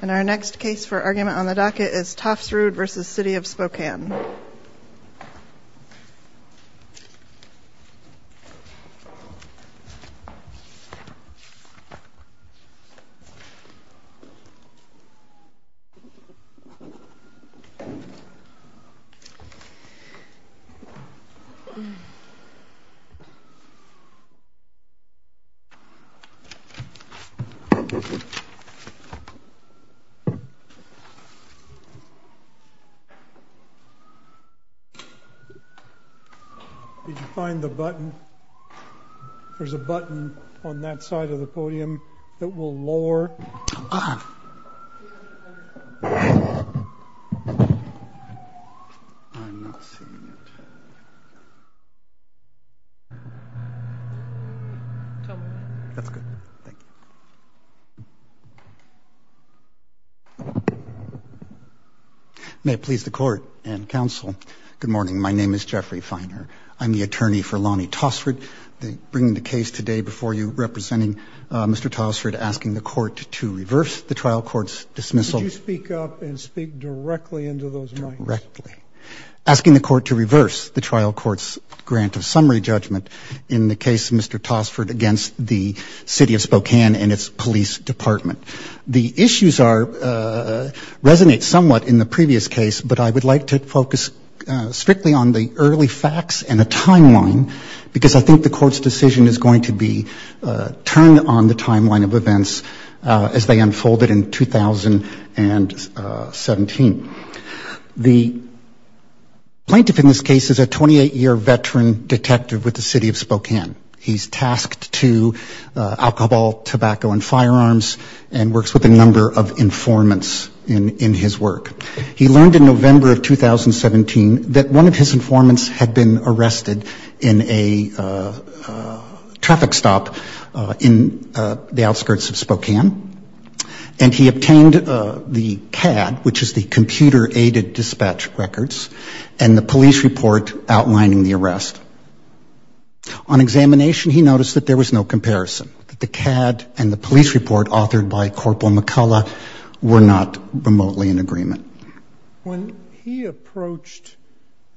And our next case for argument on the docket is Tofsrud v. City of Spokane Did you find the button? There's a button on that side of the podium that will lower Good morning. My name is Jeffrey Feiner. I'm the attorney for Lonnie Tofsrud. I'm bringing the case today before you, representing Mr. Tofsrud, asking the Court to reverse the trial court's dismissal. Could you speak up and speak directly into those mics? Directly. Asking the Court to reverse the trial court's grant of summary judgment in the case of Mr. Tofsrud against the City of Spokane and its police department. The issues resonate somewhat in the previous case, but I would like to focus strictly on the early facts and a timeline, because I think the Court's decision is going to be turned on the timeline of events as they unfolded in 2017. The plaintiff in this case is a 28-year veteran detective with the City of Spokane. He's tasked to alcohol, tobacco, and firearms and works with a number of informants in his work. He learned in November of 2017 that one of his informants had been arrested in a traffic stop in the outskirts of Spokane, and he obtained the CAD, which is the Computer Aided Dispatch Records, and the police report outlining the arrest. On examination, he noticed that there was no comparison, that the CAD and the police report authored by Corporal McCullough were not remotely in agreement. When he approached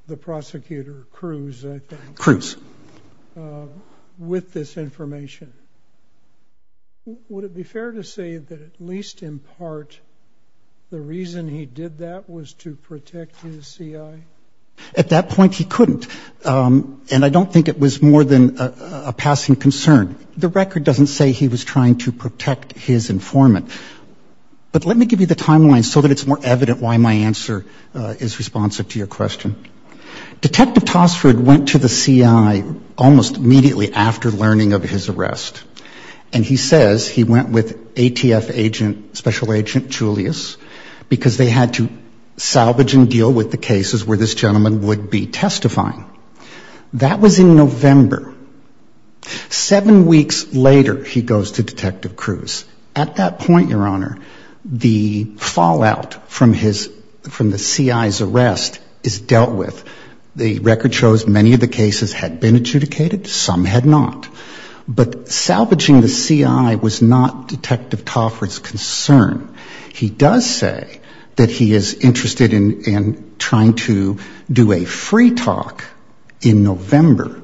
the prosecutor, Cruz, I think, with this information, would it be fair to say that at least in part the reason he did that was to protect his CI? At that point, he couldn't, and I don't think it was more than a passing concern. The record doesn't say he was trying to protect his informant. But let me give you the timeline so that it's more evident why my answer is responsive to your question. Detective Tosford went to the CI almost immediately after learning of his arrest, and he says he went with ATF agent, Special Agent Julius, because they had to salvage and deal with the cases where this gentleman would be testifying. That was in November. Seven weeks later, he goes to Detective Cruz. At that point, Your Honor, the fallout from the CI's arrest is dealt with. The record shows many of the cases had been adjudicated, some had not. But salvaging the CI was not Detective Tosford's concern. He does say that he is interested in trying to do a free talk in November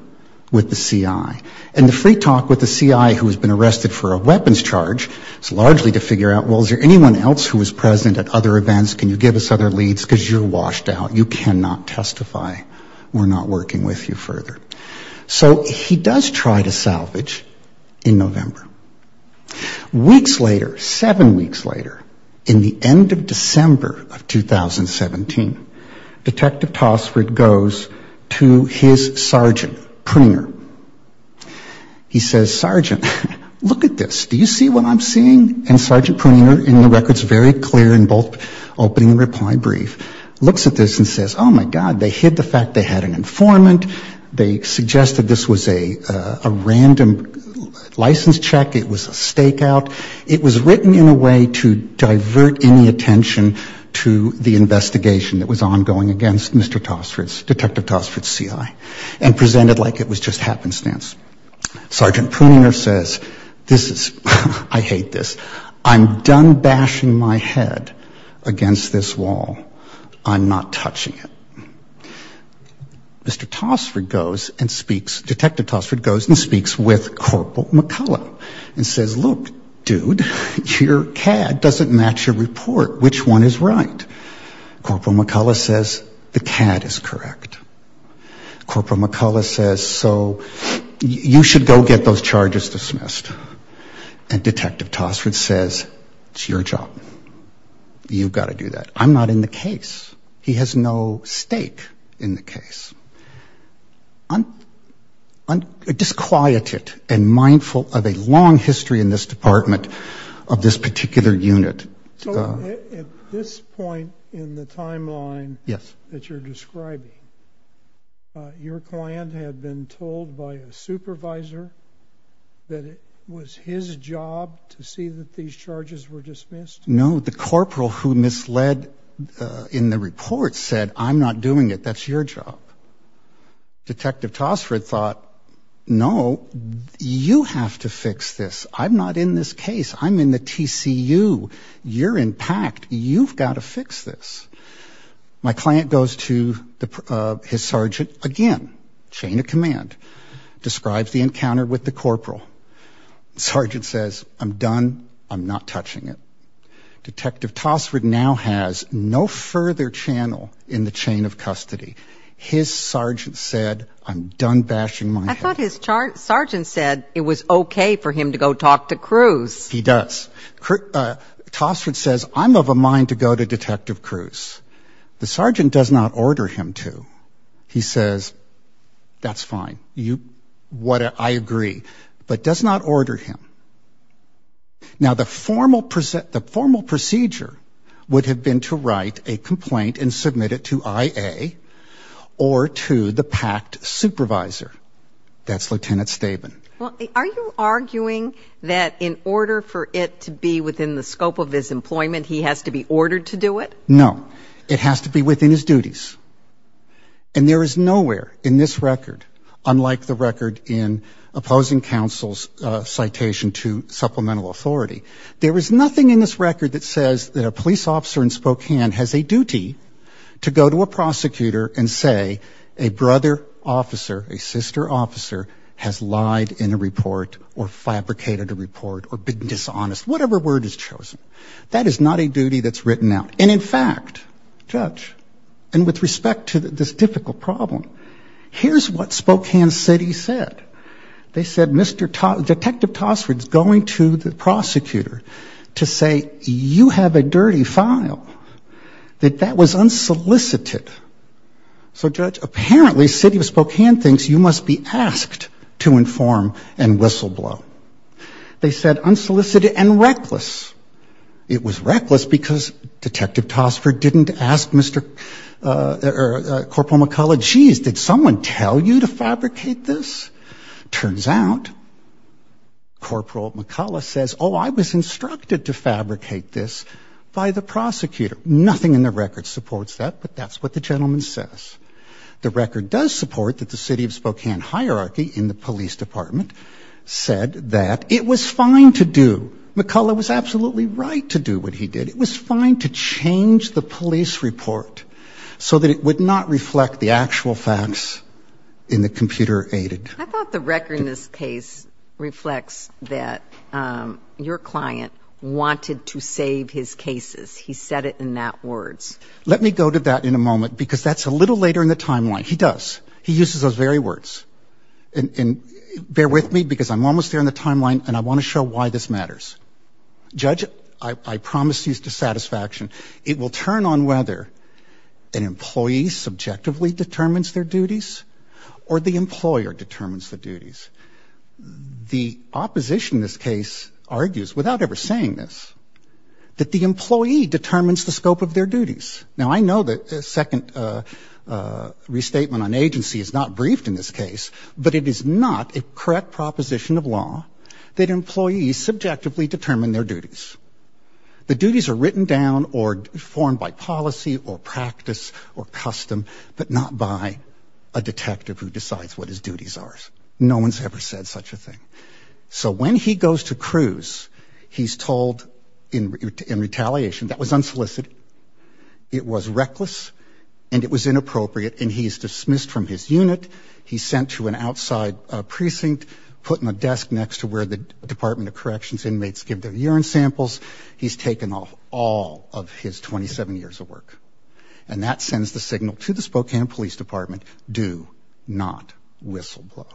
with the CI. And the free talk with the CI who has been arrested for a weapons charge is largely to figure out, well, is there anyone else who was present at other events? Can you give us other leads? Because you're washed out. You cannot testify. We're not working with you further. So he does try to salvage in November. Weeks later, seven weeks later, in the end of December of 2017, Detective Tosford goes to his sergeant, Pruninger. He says, Sergeant, look at this. Do you see what I'm seeing? And Sergeant Pruninger, in the records very clear in both opening and reply brief, looks at this and says, oh, my God, they hid the fact they had an informant. They suggested this was a random license check. It was a stakeout. It was written in a way to divert any attention to the investigation that was ongoing against Mr. Tosford's, Detective Tosford's CI, and presented like it was just happenstance. Sergeant Pruninger says, this is, I hate this. I'm done bashing my head against this wall. I'm not touching it. Mr. Tosford goes and speaks, Detective Tosford goes and speaks with Corporal McCullough and says, look, dude, your CAD doesn't match your report. Which one is right? Corporal McCullough says the CAD is correct. Corporal McCullough says, so you should go get those charges dismissed. And Detective Tosford says, it's your job. You've got to do that. I'm not in the case. He has no stake in the case. Disquieted and mindful of a long history in this department of this particular unit. So at this point in the timeline that you're describing, your client had been told by a supervisor that it was his job to see that these charges were dismissed? No, the corporal who misled in the report said, I'm not doing it. That's your job. Detective Tosford thought, no, you have to fix this. I'm not in this case. I'm in the TCU. You're in PACT. You've got to fix this. My client goes to his sergeant again, chain of command, describes the encounter with the corporal. Sergeant says, I'm done. I'm not touching it. Detective Tosford now has no further channel in the chain of custody. His sergeant said, I'm done bashing my head. I thought his sergeant said it was okay for him to go talk to Cruz. He does. Tosford says, I'm of a mind to go to Detective Cruz. The sergeant does not order him to. He says, that's fine. I agree. But does not order him. Now, the formal procedure would have been to write a complaint and submit it to IA or to the PACT supervisor. That's Lieutenant Staben. Are you arguing that in order for it to be within the scope of his employment, he has to be ordered to do it? No. It has to be within his duties. And there is nowhere in this record, unlike the record in opposing counsel's citation to supplemental authority, there is nothing in this record that says that a police officer in Spokane has a duty to go to a prosecutor and say a brother officer, a sister officer, has lied in a report or fabricated a report or been dishonest, whatever word is chosen. That is not a duty that's written out. And, in fact, Judge, and with respect to this difficult problem, here's what Spokane City said. They said Detective Tosford's going to the prosecutor to say, you have a dirty file, that that was unsolicited. So, Judge, apparently City of Spokane thinks you must be asked to inform and whistleblow. They said unsolicited and reckless. It was reckless because Detective Tosford didn't ask Mr. or Corporal McCullough, geez, did someone tell you to fabricate this? Turns out, Corporal McCullough says, oh, I was instructed to fabricate this by the prosecutor. Nothing in the record supports that, but that's what the gentleman says. The record does support that the City of Spokane hierarchy in the police department said that it was fine to do. McCullough was absolutely right to do what he did. It was fine to change the police report so that it would not reflect the actual facts in the computer aided. I thought the record in this case reflects that your client wanted to save his cases. He said it in that words. Let me go to that in a moment because that's a little later in the timeline. He does. He uses those very words. And bear with me because I'm almost there in the timeline, and I want to show why this matters. Judge, I promise you to satisfaction. It will turn on whether an employee subjectively determines their duties or the employer determines the duties. The opposition in this case argues, without ever saying this, that the employee determines the scope of their duties. Now, I know the second restatement on agency is not briefed in this case, but it is not a correct proposition of law that employees subjectively determine their duties. The duties are written down or formed by policy or practice or custom, but not by a detective who decides what his duties are. No one's ever said such a thing. So when he goes to cruise, he's told in retaliation that was unsolicited, it was reckless, and it was inappropriate, and he is dismissed from his unit. He's sent to an outside precinct, put in a desk next to where the Department of Corrections inmates give their urine samples. He's taken off all of his 27 years of work. And that sends the signal to the Spokane Police Department, do not whistleblow.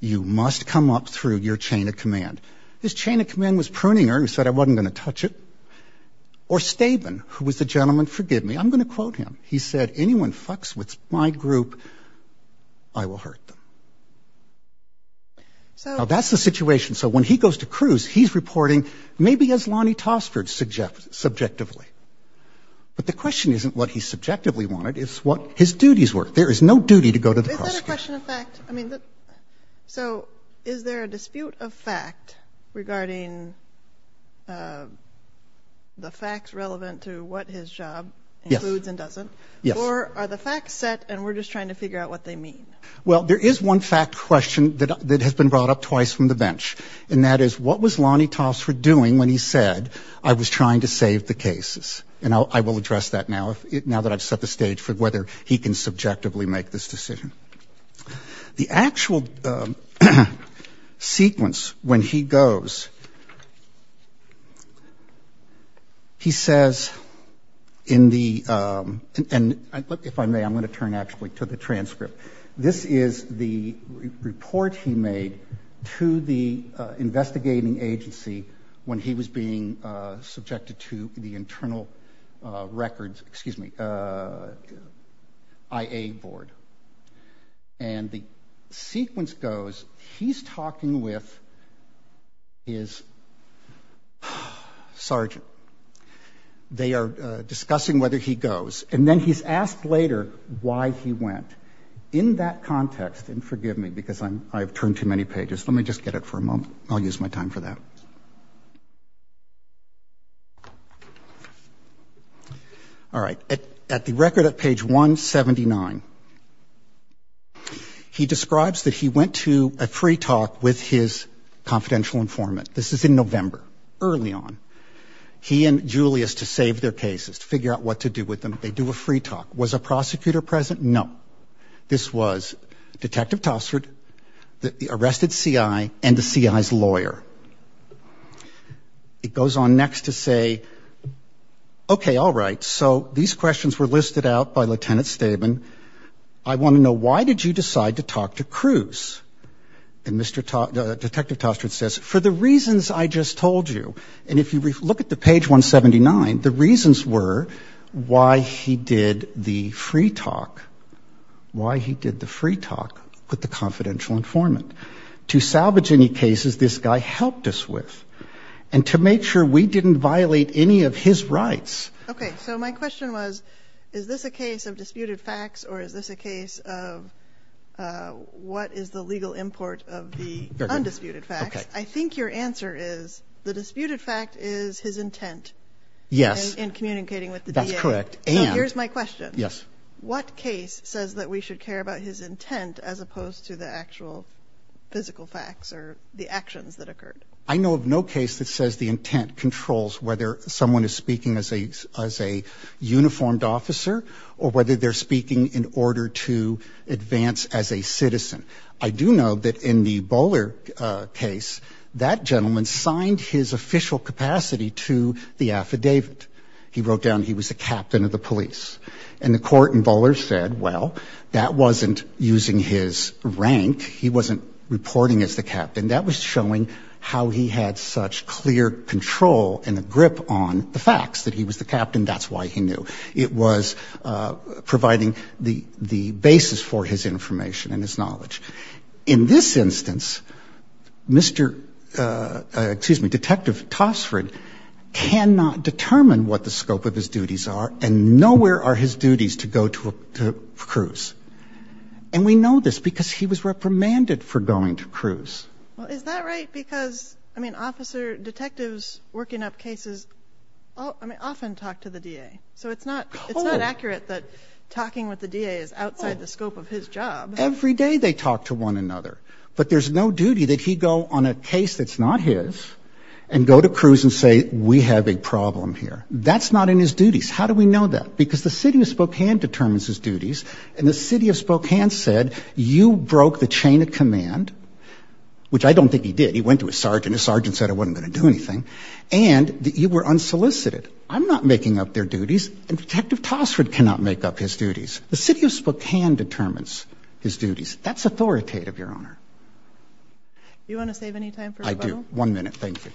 You must come up through your chain of command. His chain of command was Pruninger, who said I wasn't going to touch it, or Staben, who was the gentleman, forgive me, I'm going to quote him. He said, anyone fucks with my group, I will hurt them. Now, that's the situation. So when he goes to cruise, he's reporting maybe as Lonnie Tosford subjectively. But the question isn't what he subjectively wanted, it's what his duties were. There is no duty to go to the prosecutor. Is that a question of fact? I mean, so is there a dispute of fact regarding the facts relevant to what his job includes and doesn't? Yes. Or are the facts set and we're just trying to figure out what they mean? Well, there is one fact question that has been brought up twice from the bench, and that is what was Lonnie Tosford doing when he said, I was trying to save the cases? And I will address that now that I've set the stage for whether he can subjectively make this decision. The actual sequence when he goes, he says in the – and if I may, I'm going to turn actually to the transcript. This is the report he made to the investigating agency when he was being And the sequence goes, he's talking with his sergeant. They are discussing whether he goes. And then he's asked later why he went. In that context, and forgive me because I've turned too many pages, let me just get it for a moment. I'll use my time for that. All right. At the record at page 179, he describes that he went to a free talk with his confidential informant. This is in November, early on. He and Julius, to save their cases, to figure out what to do with them, they do a free talk. Was a prosecutor present? No. This was Detective Tosford, the arrested CI, and the CI's lawyer. It goes on next to say, okay, all right. So these questions were listed out by Lieutenant Staben. I want to know why did you decide to talk to Cruz? And Detective Tosford says, for the reasons I just told you. And if you look at the page 179, the reasons were why he did the free talk. Why he did the free talk with the confidential informant. To salvage any cases this guy helped us with. And to make sure we didn't violate any of his rights. Okay. So my question was, is this a case of disputed facts, or is this a case of what is the legal import of the undisputed facts? I think your answer is the disputed fact is his intent. Yes. In communicating with the DA. That's correct. So here's my question. Yes. What case says that we should care about his intent, as opposed to the actual physical facts or the actions that occurred? I know of no case that says the intent controls whether someone is speaking as a uniformed officer, or whether they're speaking in order to advance as a citizen. I do know that in the Bowler case, that gentleman signed his official capacity to the affidavit. He wrote down he was the captain of the police. And the court in Bowler said, well, that wasn't using his rank. He wasn't reporting as the captain. That was showing how he had such clear control and a grip on the facts, that he was the captain. That's why he knew. It was providing the basis for his information and his knowledge. In this instance, Mr. — excuse me, Detective Tosfred cannot determine what the scope of his duties are, and nowhere are his duties to go to a cruise. And we know this because he was reprimanded for going to cruise. Well, is that right? Because, I mean, officer — detectives working up cases often talk to the DA. So it's not accurate that talking with the DA is outside the scope of his job. Every day they talk to one another. But there's no duty that he go on a case that's not his and go to cruise and say, we have a problem here. That's not in his duties. How do we know that? Because the city of Spokane determines his duties, and the city of Spokane said, you broke the chain of command, which I don't think he did. He went to his sergeant. His sergeant said it wasn't going to do anything. And you were unsolicited. I'm not making up their duties, and Detective Tosfred cannot make up his duties. The city of Spokane determines his duties. That's authoritative, Your Honor. Do you want to save any time for Spokane? I do. One minute. Thank you.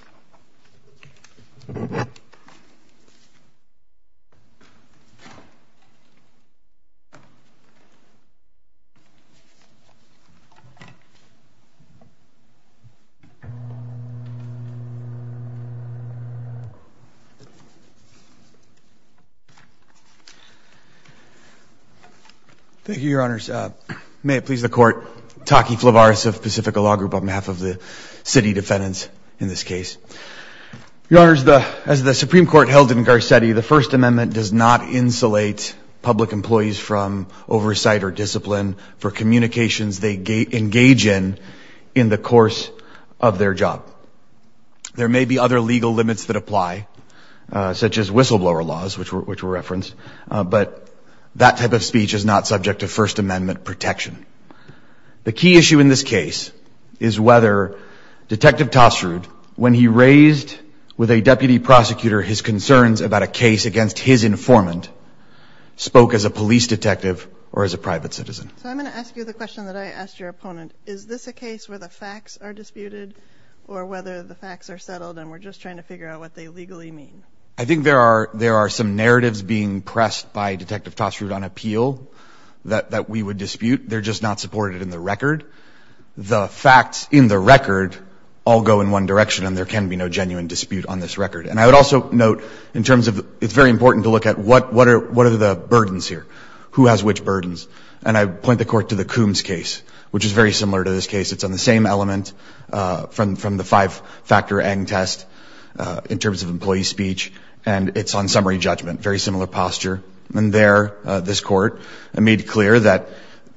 Thank you, Your Honors. May it please the Court. Taki Flavaris of Pacifica Law Group on behalf of the city defendants in this case. Your Honors, as the Supreme Court held in Garcetti, the First Amendment does not insulate public employees from oversight or discipline for communications they engage in in the course of their job. There may be other legal limits that apply, such as whistleblower laws, which were referenced, but that type of speech is not subject to First Amendment protection. The key issue in this case is whether Detective Tosfred, when he raised with a deputy prosecutor his concerns about a case against his informant, spoke as a police detective or as a private citizen. So I'm going to ask you the question that I asked your opponent. Is this a case where the facts are disputed or whether the facts are settled and we're just trying to figure out what they legally mean? I think there are some narratives being pressed by Detective Tosfred on appeal that we would dispute. They're just not supported in the record. The facts in the record all go in one direction, and there can be no genuine dispute on this record. And I would also note in terms of it's very important to look at what are the burdens here. Who has which burdens? And I point the Court to the Coombs case, which is very similar to this case. It's on the same element from the five-factor Eng test in terms of employee speech, and it's on summary judgment, very similar posture. And there this Court made clear that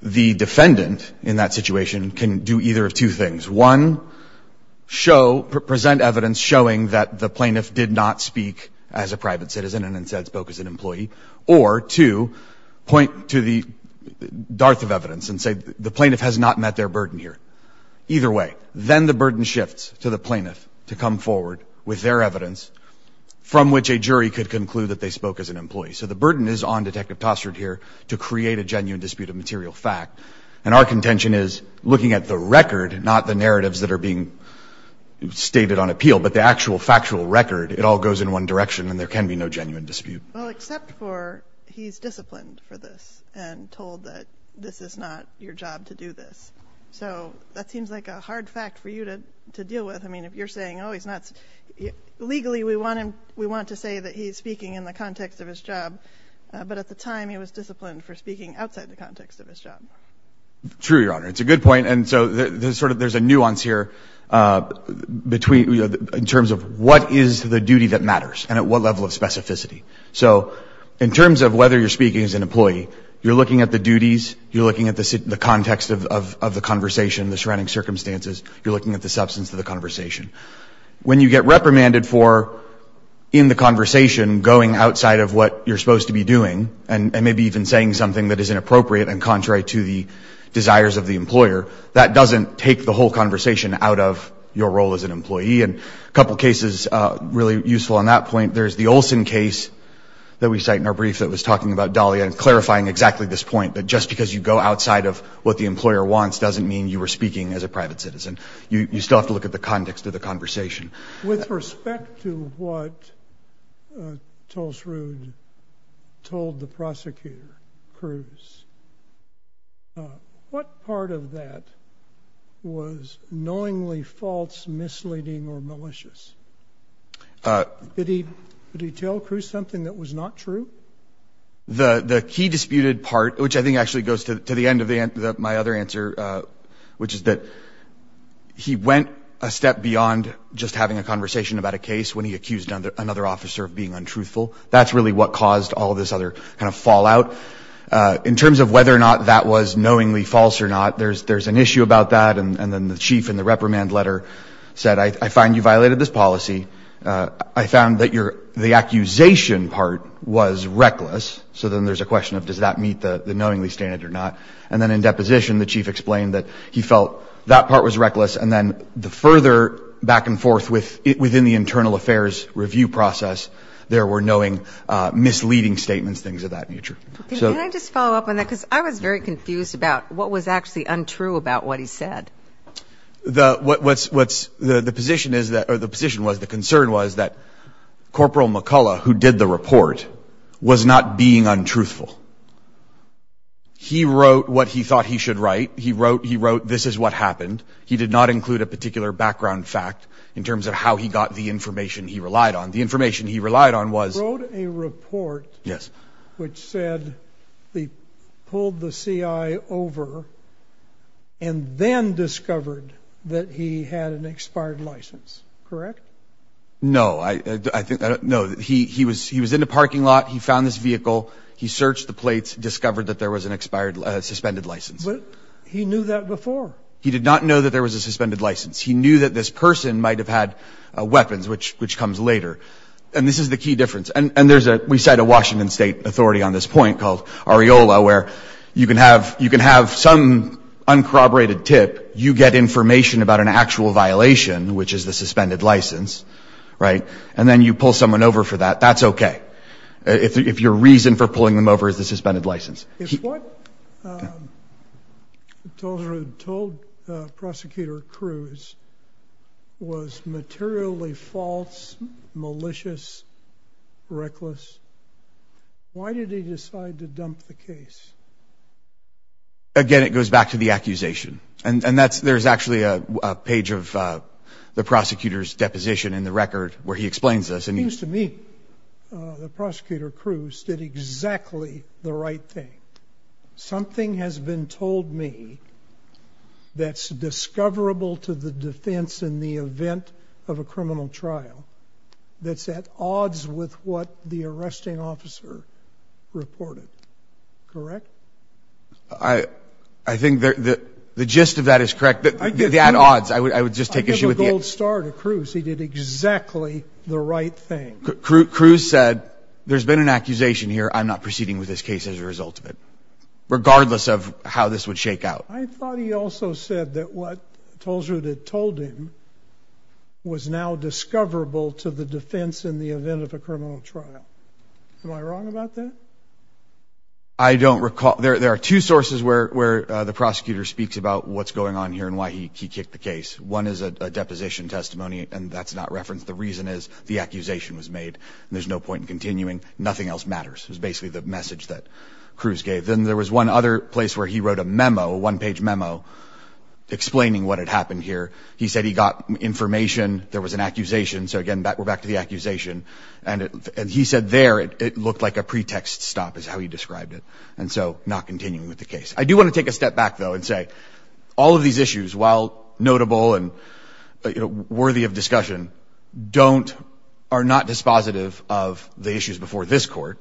the defendant in that situation can do either of two things. One, present evidence showing that the plaintiff did not speak as a private citizen and instead spoke as an employee. Or two, point to the dearth of evidence and say the plaintiff has not met their burden here. Either way, then the burden shifts to the plaintiff to come forward with their evidence from which a jury could conclude that they spoke as an employee. So the burden is on Detective Tosfred here to create a genuine dispute of material fact. And our contention is looking at the record, not the narratives that are being stated on appeal, but the actual factual record. It all goes in one direction, and there can be no genuine dispute. Well, except for he's disciplined for this and told that this is not your job to do this. So that seems like a hard fact for you to deal with. I mean, if you're saying, oh, he's not – legally, we want him – we want to say that he's speaking in the context of his job, but at the time he was disciplined for speaking outside the context of his job. True, Your Honor. It's a good point. And so there's sort of – there's a nuance here between – so in terms of whether you're speaking as an employee, you're looking at the duties, you're looking at the context of the conversation, the surrounding circumstances, you're looking at the substance of the conversation. When you get reprimanded for, in the conversation, going outside of what you're supposed to be doing and maybe even saying something that is inappropriate and contrary to the desires of the employer, that doesn't take the whole conversation out of your role as an employee. And a couple cases really useful on that point, there's the Olson case that we cite in our brief that was talking about Dahlia and clarifying exactly this point that just because you go outside of what the employer wants doesn't mean you were speaking as a private citizen. You still have to look at the context of the conversation. With respect to what Tuls Rudd told the prosecutor, Cruz, what part of that was knowingly false, misleading, or malicious? Did he tell Cruz something that was not true? The key disputed part, which I think actually goes to the end of my other answer, which is that he went a step beyond just having a conversation about a case when he accused another officer of being untruthful. That's really what caused all this other kind of fallout. In terms of whether or not that was knowingly false or not, there's an issue about that. And then the chief in the reprimand letter said, I find you violated this policy. I found that the accusation part was reckless. So then there's a question of does that meet the knowingly standard or not. And then in deposition, the chief explained that he felt that part was reckless. And then the further back and forth within the internal affairs review process, there were knowing misleading statements, things of that nature. Can I just follow up on that? Because I was very confused about what was actually untrue about what he said. The position was, the concern was that Corporal McCullough, who did the report, was not being untruthful. He wrote what he thought he should write. He wrote this is what happened. He did not include a particular background fact in terms of how he got the information he relied on. The information he relied on was. He wrote a report. Yes. Which said he pulled the CI over and then discovered that he had an expired license. Correct? No. No. He was in the parking lot. He found this vehicle. He searched the plates, discovered that there was an expired suspended license. But he knew that before. He did not know that there was a suspended license. He knew that this person might have had weapons, which comes later. And this is the key difference. And we cite a Washington State authority on this point called Areola, where you can have some uncorroborated tip. You get information about an actual violation, which is the suspended license, right? And then you pull someone over for that. That's okay. If your reason for pulling them over is the suspended license. If what Toldrud told Prosecutor Cruz was materially false, malicious, reckless, why did he decide to dump the case? Again, it goes back to the accusation. And there's actually a page of the prosecutor's deposition in the record where he explains this. It seems to me that Prosecutor Cruz did exactly the right thing. Something has been told me that's discoverable to the defense in the event of a criminal trial that's at odds with what the arresting officer reported. Correct? I think the gist of that is correct. They're at odds. I would just take issue with it. He did exactly the right thing. Cruz said there's been an accusation here. I'm not proceeding with this case as a result of it, regardless of how this would shake out. I thought he also said that what Toldrud had told him was now discoverable to the defense in the event of a criminal trial. Am I wrong about that? I don't recall. There are two sources where the prosecutor speaks about what's going on here and why he kicked the case. One is a deposition testimony, and that's not referenced. The reason is the accusation was made, and there's no point in continuing. Nothing else matters. It was basically the message that Cruz gave. Then there was one other place where he wrote a memo, a one-page memo, explaining what had happened here. He said he got information. There was an accusation. So, again, we're back to the accusation. And he said there it looked like a pretext stop is how he described it, and so not continuing with the case. I do want to take a step back, though, and say all of these issues, while notable and, you know, worthy of discussion, don't or are not dispositive of the issues before this Court,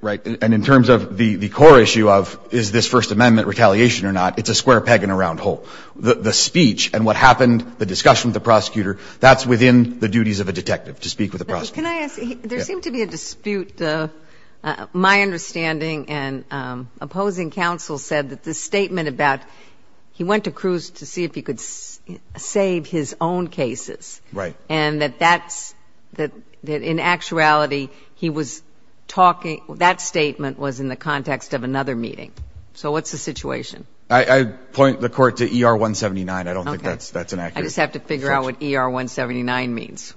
right? And in terms of the core issue of is this First Amendment retaliation or not, it's a square peg in a round hole. The speech and what happened, the discussion with the prosecutor, that's within the duties of a detective to speak with a prosecutor. Can I ask, there seemed to be a dispute. My understanding and opposing counsel said that the statement about he went to Cruz to see if he could save his own cases. Right. And that that's, that in actuality, he was talking, that statement was in the context of another meeting. So what's the situation? I point the Court to ER 179. I don't think that's an accurate. I just have to figure out what ER 179 means.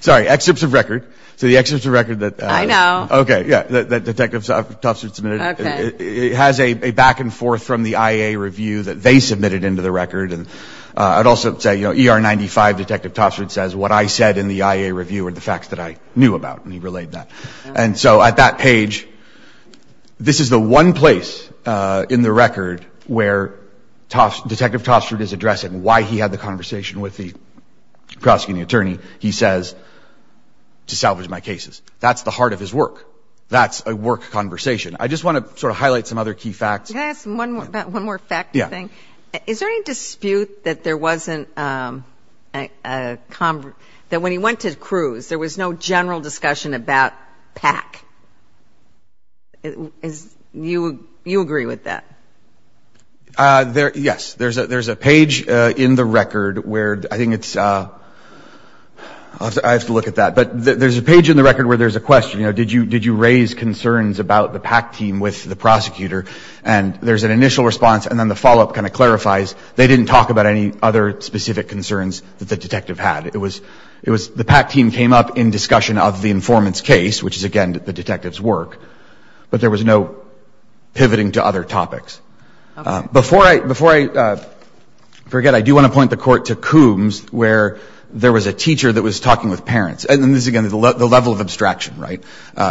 Sorry. Excerpts of record. So the excerpts of record that. I know. Okay. Yeah. That Detective Toffsford submitted. Okay. It has a back and forth from the IA review that they submitted into the record. And I'd also say, you know, ER 95, Detective Toffsford says, what I said in the IA review are the facts that I knew about. And he relayed that. And so at that page, this is the one place in the record where Detective Toffsford is addressing why he had the conversation with the prosecuting attorney, he says, to salvage my cases. That's the heart of his work. That's a work conversation. I just want to sort of highlight some other key facts. Can I ask about one more fact thing? Yeah. Is there any dispute that there wasn't a, that when he went to Cruz, there was no general discussion about PAC? You agree with that? Yes. There's a page in the record where I think it's, I have to look at that. But there's a page in the record where there's a question, you know, did you raise concerns about the PAC team with the prosecutor? And there's an initial response, and then the follow-up kind of clarifies, they didn't talk about any other specific concerns that the detective had. It was the PAC team came up in discussion of the informant's case, which is, again, the detective's work. But there was no pivoting to other topics. Before I forget, I do want to point the Court to Coombs, where there was a teacher that was talking with parents. And this is, again, the level of abstraction, right,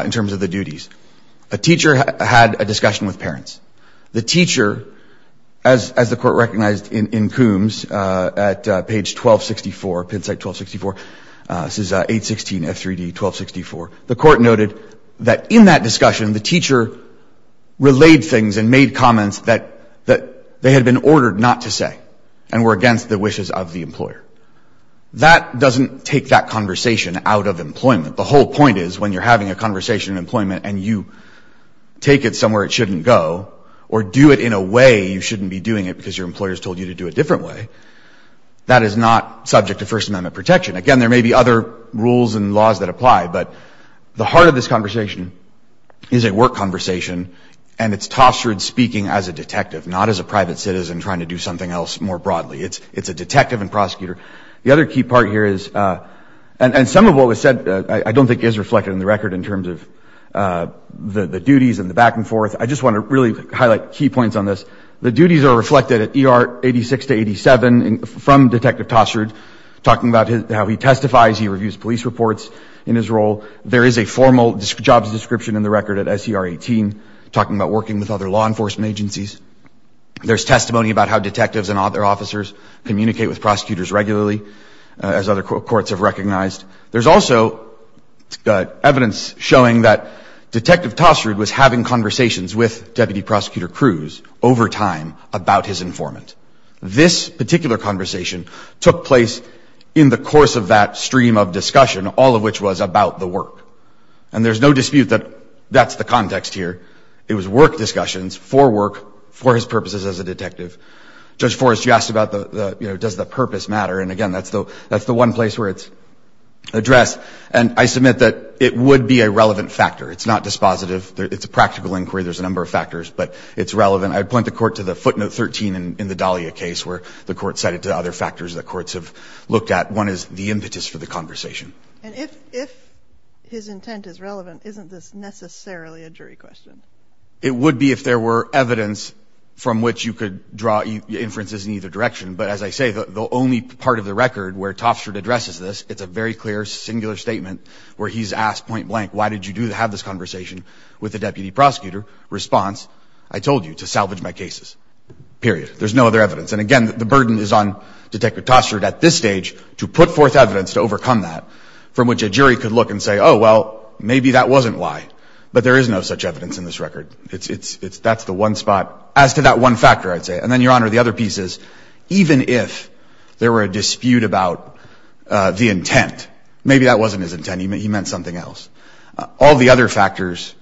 in terms of the duties. A teacher had a discussion with parents. The teacher, as the Court recognized in Coombs, at page 1264, Penn State 1264, this is 816 F3D 1264, the Court noted that in that discussion, the teacher relayed things and made comments that they had been ordered not to say and were against the wishes of the employer. That doesn't take that conversation out of employment. The whole point is when you're having a conversation in employment and you take it somewhere it shouldn't go or do it in a way you shouldn't be doing it because your employer has told you to do it a different way, that is not subject to First Amendment protection. Again, there may be other rules and laws that apply, but the heart of this conversation is a work conversation, and it's Tossard speaking as a detective, not as a private citizen trying to do something else more broadly. It's a detective and prosecutor. The other key part here is, and some of what was said I don't think is reflected in the record in terms of the duties and the back and forth. I just want to really highlight key points on this. The duties are reflected at ER 86 to 87 from Detective Tossard, talking about how he testifies, he reviews police reports in his role. There is a formal jobs description in the record at SER 18, talking about working with other law enforcement agencies. There's testimony about how detectives and other officers communicate with prosecutors regularly, as other courts have recognized. There's also evidence showing that Detective Tossard was having conversations with Deputy Prosecutor Cruz over time about his informant. This particular conversation took place in the course of that stream of discussion, all of which was about the work. And there's no dispute that that's the context here. It was work discussions for work, for his purposes as a detective. Judge Forrest, you asked about the, you know, does the purpose matter? And again, that's the one place where it's addressed. And I submit that it would be a relevant factor. It's not dispositive. It's a practical inquiry. There's a number of factors, but it's relevant. I'd point the Court to the footnote 13 in the Dahlia case, where the Court cited other factors that courts have looked at. One is the impetus for the conversation. And if his intent is relevant, isn't this necessarily a jury question? It would be if there were evidence from which you could draw inferences in either direction. But as I say, the only part of the record where Tossard addresses this, it's a very clear singular statement where he's asked point blank, why did you have this conversation with the deputy prosecutor? Response, I told you, to salvage my cases, period. There's no other evidence. And again, the burden is on Detective Tossard at this stage to put forth evidence to overcome that from which a jury could look and say, oh, well, maybe that wasn't why. But there is no such evidence in this record. That's the one spot as to that one factor, I'd say. And then, Your Honor, the other piece is even if there were a dispute about the intent, maybe that wasn't his intent. He meant something else. All the other factors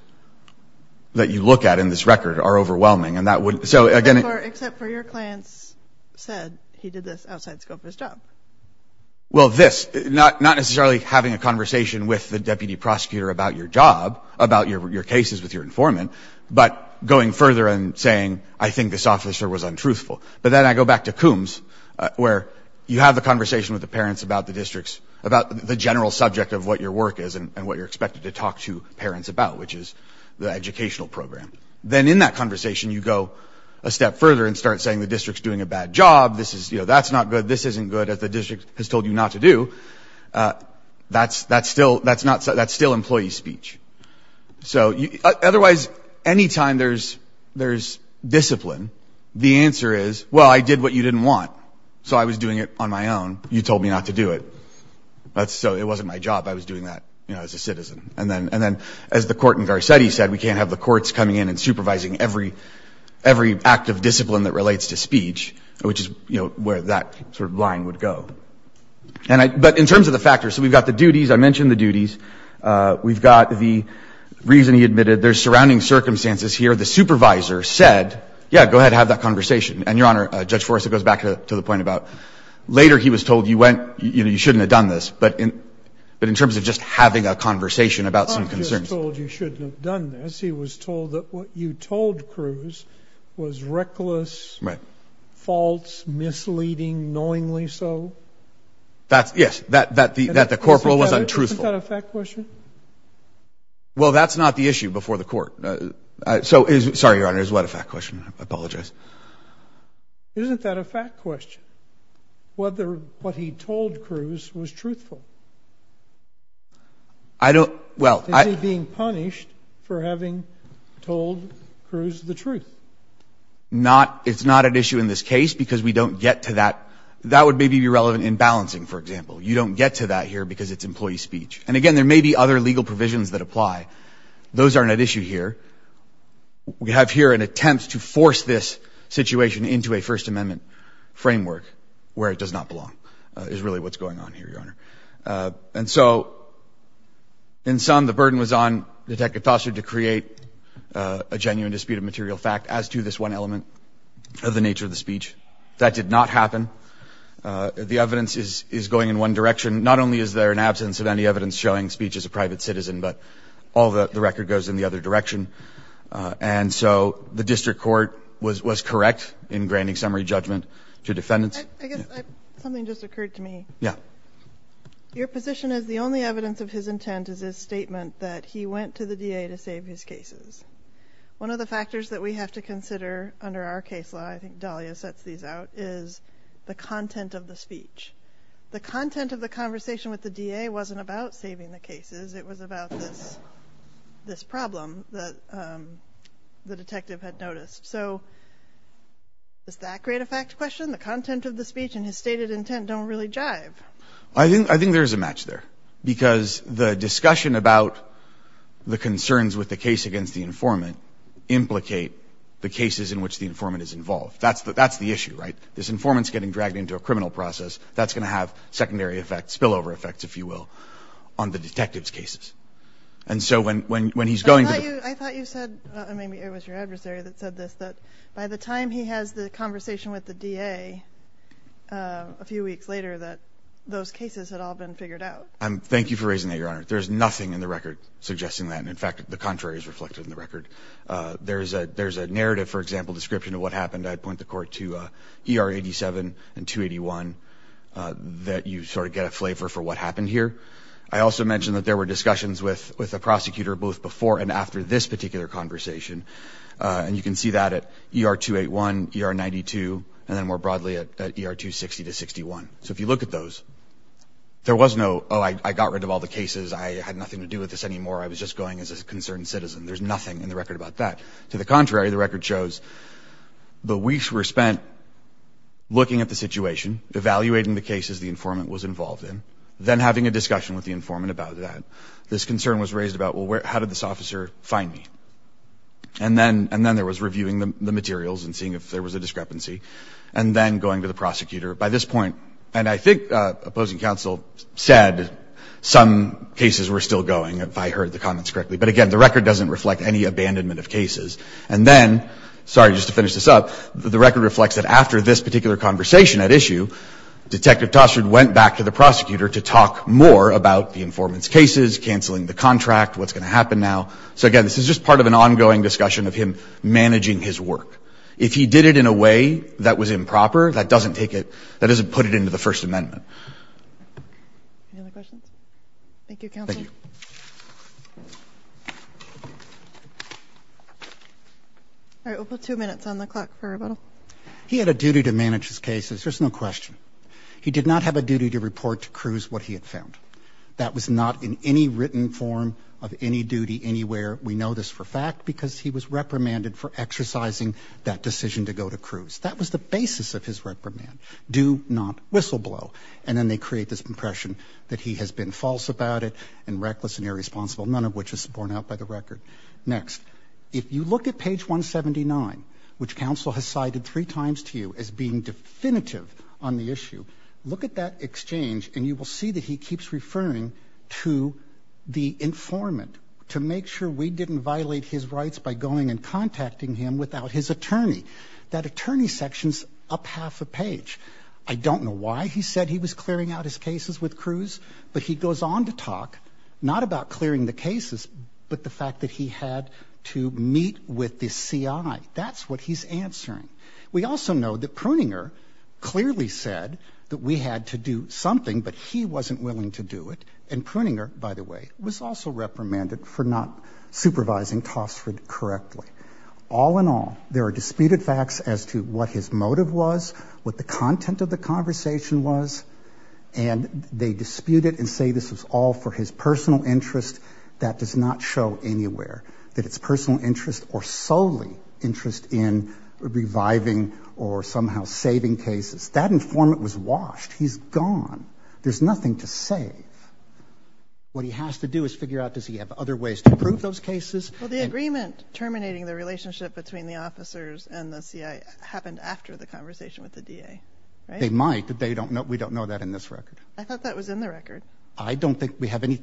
that you look at in this record are overwhelming. And that would – so, again – Except for your clients said he did this outside the scope of his job. Well, this – not necessarily having a conversation with the deputy prosecutor about your job, about your cases with your informant, but going further and saying, I think this officer was untruthful. But then I go back to Coombs where you have the conversation with the parents about the districts, about the general subject of what your work is and what you're expected to talk to parents about, which is the educational program. Then in that conversation, you go a step further and start saying the district's doing a bad job. This is – that's not good. This isn't good, as the district has told you not to do. That's still employee speech. So, otherwise, any time there's discipline, the answer is, well, I did what you didn't want, so I was doing it on my own. You told me not to do it, so it wasn't my job. I was doing that as a citizen. And then, as the court in Garcetti said, we can't have the courts coming in and supervising every act of discipline that relates to speech, which is where that sort of line would go. But in terms of the factors, so we've got the duties. I mentioned the duties. We've got the reason he admitted. There's surrounding circumstances here. The supervisor said, yeah, go ahead, have that conversation. And, Your Honor, Judge Forrest, it goes back to the point about later he was told you went – you shouldn't have done this, but in terms of just having a conversation about some concerns. I'm just told you shouldn't have done this. He was told that what you told Cruz was reckless, false, misleading, knowingly so. Yes, that the corporal was untruthful. Isn't that a fact question? Well, that's not the issue before the court. So is – sorry, Your Honor, is what a fact question? I apologize. Isn't that a fact question, whether what he told Cruz was truthful? I don't – well, I – Is he being punished for having told Cruz the truth? Not – it's not at issue in this case because we don't get to that. That would maybe be relevant in balancing, for example. You don't get to that here because it's employee speech. And, again, there may be other legal provisions that apply. Those aren't at issue here. We have here an attempt to force this situation into a First Amendment framework, where it does not belong, is really what's going on here, Your Honor. And so, in sum, the burden was on Detective Foster to create a genuine dispute of material fact as to this one element of the nature of the speech. That did not happen. The evidence is going in one direction. Not only is there an absence of any evidence showing speech is a private citizen, but all the record goes in the other direction. And so the district court was correct in granting summary judgment to defendants. I guess something just occurred to me. Yeah. Your position is the only evidence of his intent is his statement that he went to the DA to save his cases. One of the factors that we have to consider under our case law – I think Dahlia sets these out – is the content of the speech. The content of the conversation with the DA wasn't about saving the cases. It was about this problem that the detective had noticed. So does that create a fact question? The content of the speech and his stated intent don't really jive. I think there's a match there, because the discussion about the concerns with the case against the informant implicate the cases in which the informant is involved. That's the issue, right? This informant's getting dragged into a criminal process. That's going to have secondary effects, spillover effects, if you will, on the detective's cases. And so when he's going to the – I thought you said – I mean, it was your adversary that said this – that by the time he has the conversation with the DA a few weeks later that those cases had all been figured out. Thank you for raising that, Your Honor. There's nothing in the record suggesting that. In fact, the contrary is reflected in the record. There's a narrative, for example, description of what happened. I'd point the Court to ER 87 and 281 that you sort of get a flavor for what happened here. I also mentioned that there were discussions with the prosecutor both before and after this particular conversation. And you can see that at ER 281, ER 92, and then more broadly at ER 260 to 61. So if you look at those, there was no, oh, I got rid of all the cases, I had nothing to do with this anymore, I was just going as a concerned citizen. There's nothing in the record about that. To the contrary, the record shows the weeks were spent looking at the situation, evaluating the cases the informant was involved in, then having a discussion with the informant about that. This concern was raised about, well, how did this officer find me? And then there was reviewing the materials and seeing if there was a discrepancy, and then going to the prosecutor. By this point, and I think opposing counsel said some cases were still going, if I heard the comments correctly. But again, the record doesn't reflect any abandonment of cases. And then, sorry, just to finish this up, the record reflects that after this particular conversation at issue, Detective Tostrad went back to the prosecutor to talk more about the informant's cases, canceling the contract, what's going to happen now. So again, this is just part of an ongoing discussion of him managing his work. If he did it in a way that was improper, that doesn't take it, that doesn't put it into the First Amendment. Any other questions? Thank you, counsel. Thank you. All right. We'll put two minutes on the clock for rebuttal. He had a duty to manage his cases, there's no question. He did not have a duty to report to Cruz what he had found. That was not in any written form of any duty anywhere. We know this for a fact because he was reprimanded for exercising that decision to go to Cruz. That was the basis of his reprimand, do not whistle blow. And then they create this impression that he has been false about it and reckless and irresponsible, none of which is borne out by the record. Next. If you look at page 179, which counsel has cited three times to you as being definitive on the issue, look at that exchange and you will see that he keeps referring to the informant to make sure we didn't violate his rights by going and contacting him without his attorney. That attorney section's up half a page. I don't know why he said he was clearing out his cases with Cruz, but he goes on to talk not about clearing the cases but the fact that he had to meet with the CI. That's what he's answering. We also know that Pruninger clearly said that we had to do something but he wasn't willing to do it. And Pruninger, by the way, was also reprimanded for not supervising Tosford correctly. All in all, there are disputed facts as to what his motive was, what the content of the conversation was, and they dispute it and say this was all for his personal interest. That does not show anywhere that it's personal interest or solely interest in reviving or somehow saving cases. That informant was washed. He's gone. There's nothing to save. What he has to do is figure out, does he have other ways to prove those cases? Well, the agreement terminating the relationship between the officers and the CI happened after the conversation with the DA, right? They might, but we don't know that in this record. I thought that was in the record.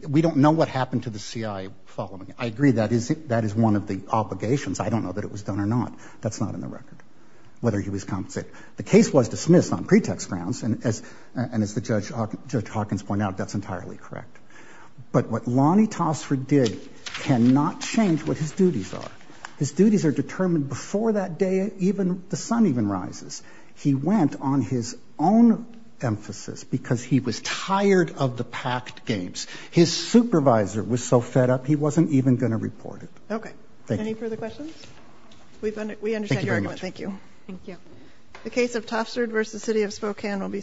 We don't know what happened to the CI following it. I agree that is one of the obligations. I don't know that it was done or not. That's not in the record, whether he was compensated. The case was dismissed on pretext grounds, and as Judge Hawkins pointed out, that's entirely correct. But what Lonnie Tosford did cannot change what his duties are. His duties are determined before that day the sun even rises. He went on his own emphasis because he was tired of the packed games. His supervisor was so fed up he wasn't even going to report it. Okay. Any further questions? We understand your argument. Thank you. Thank you.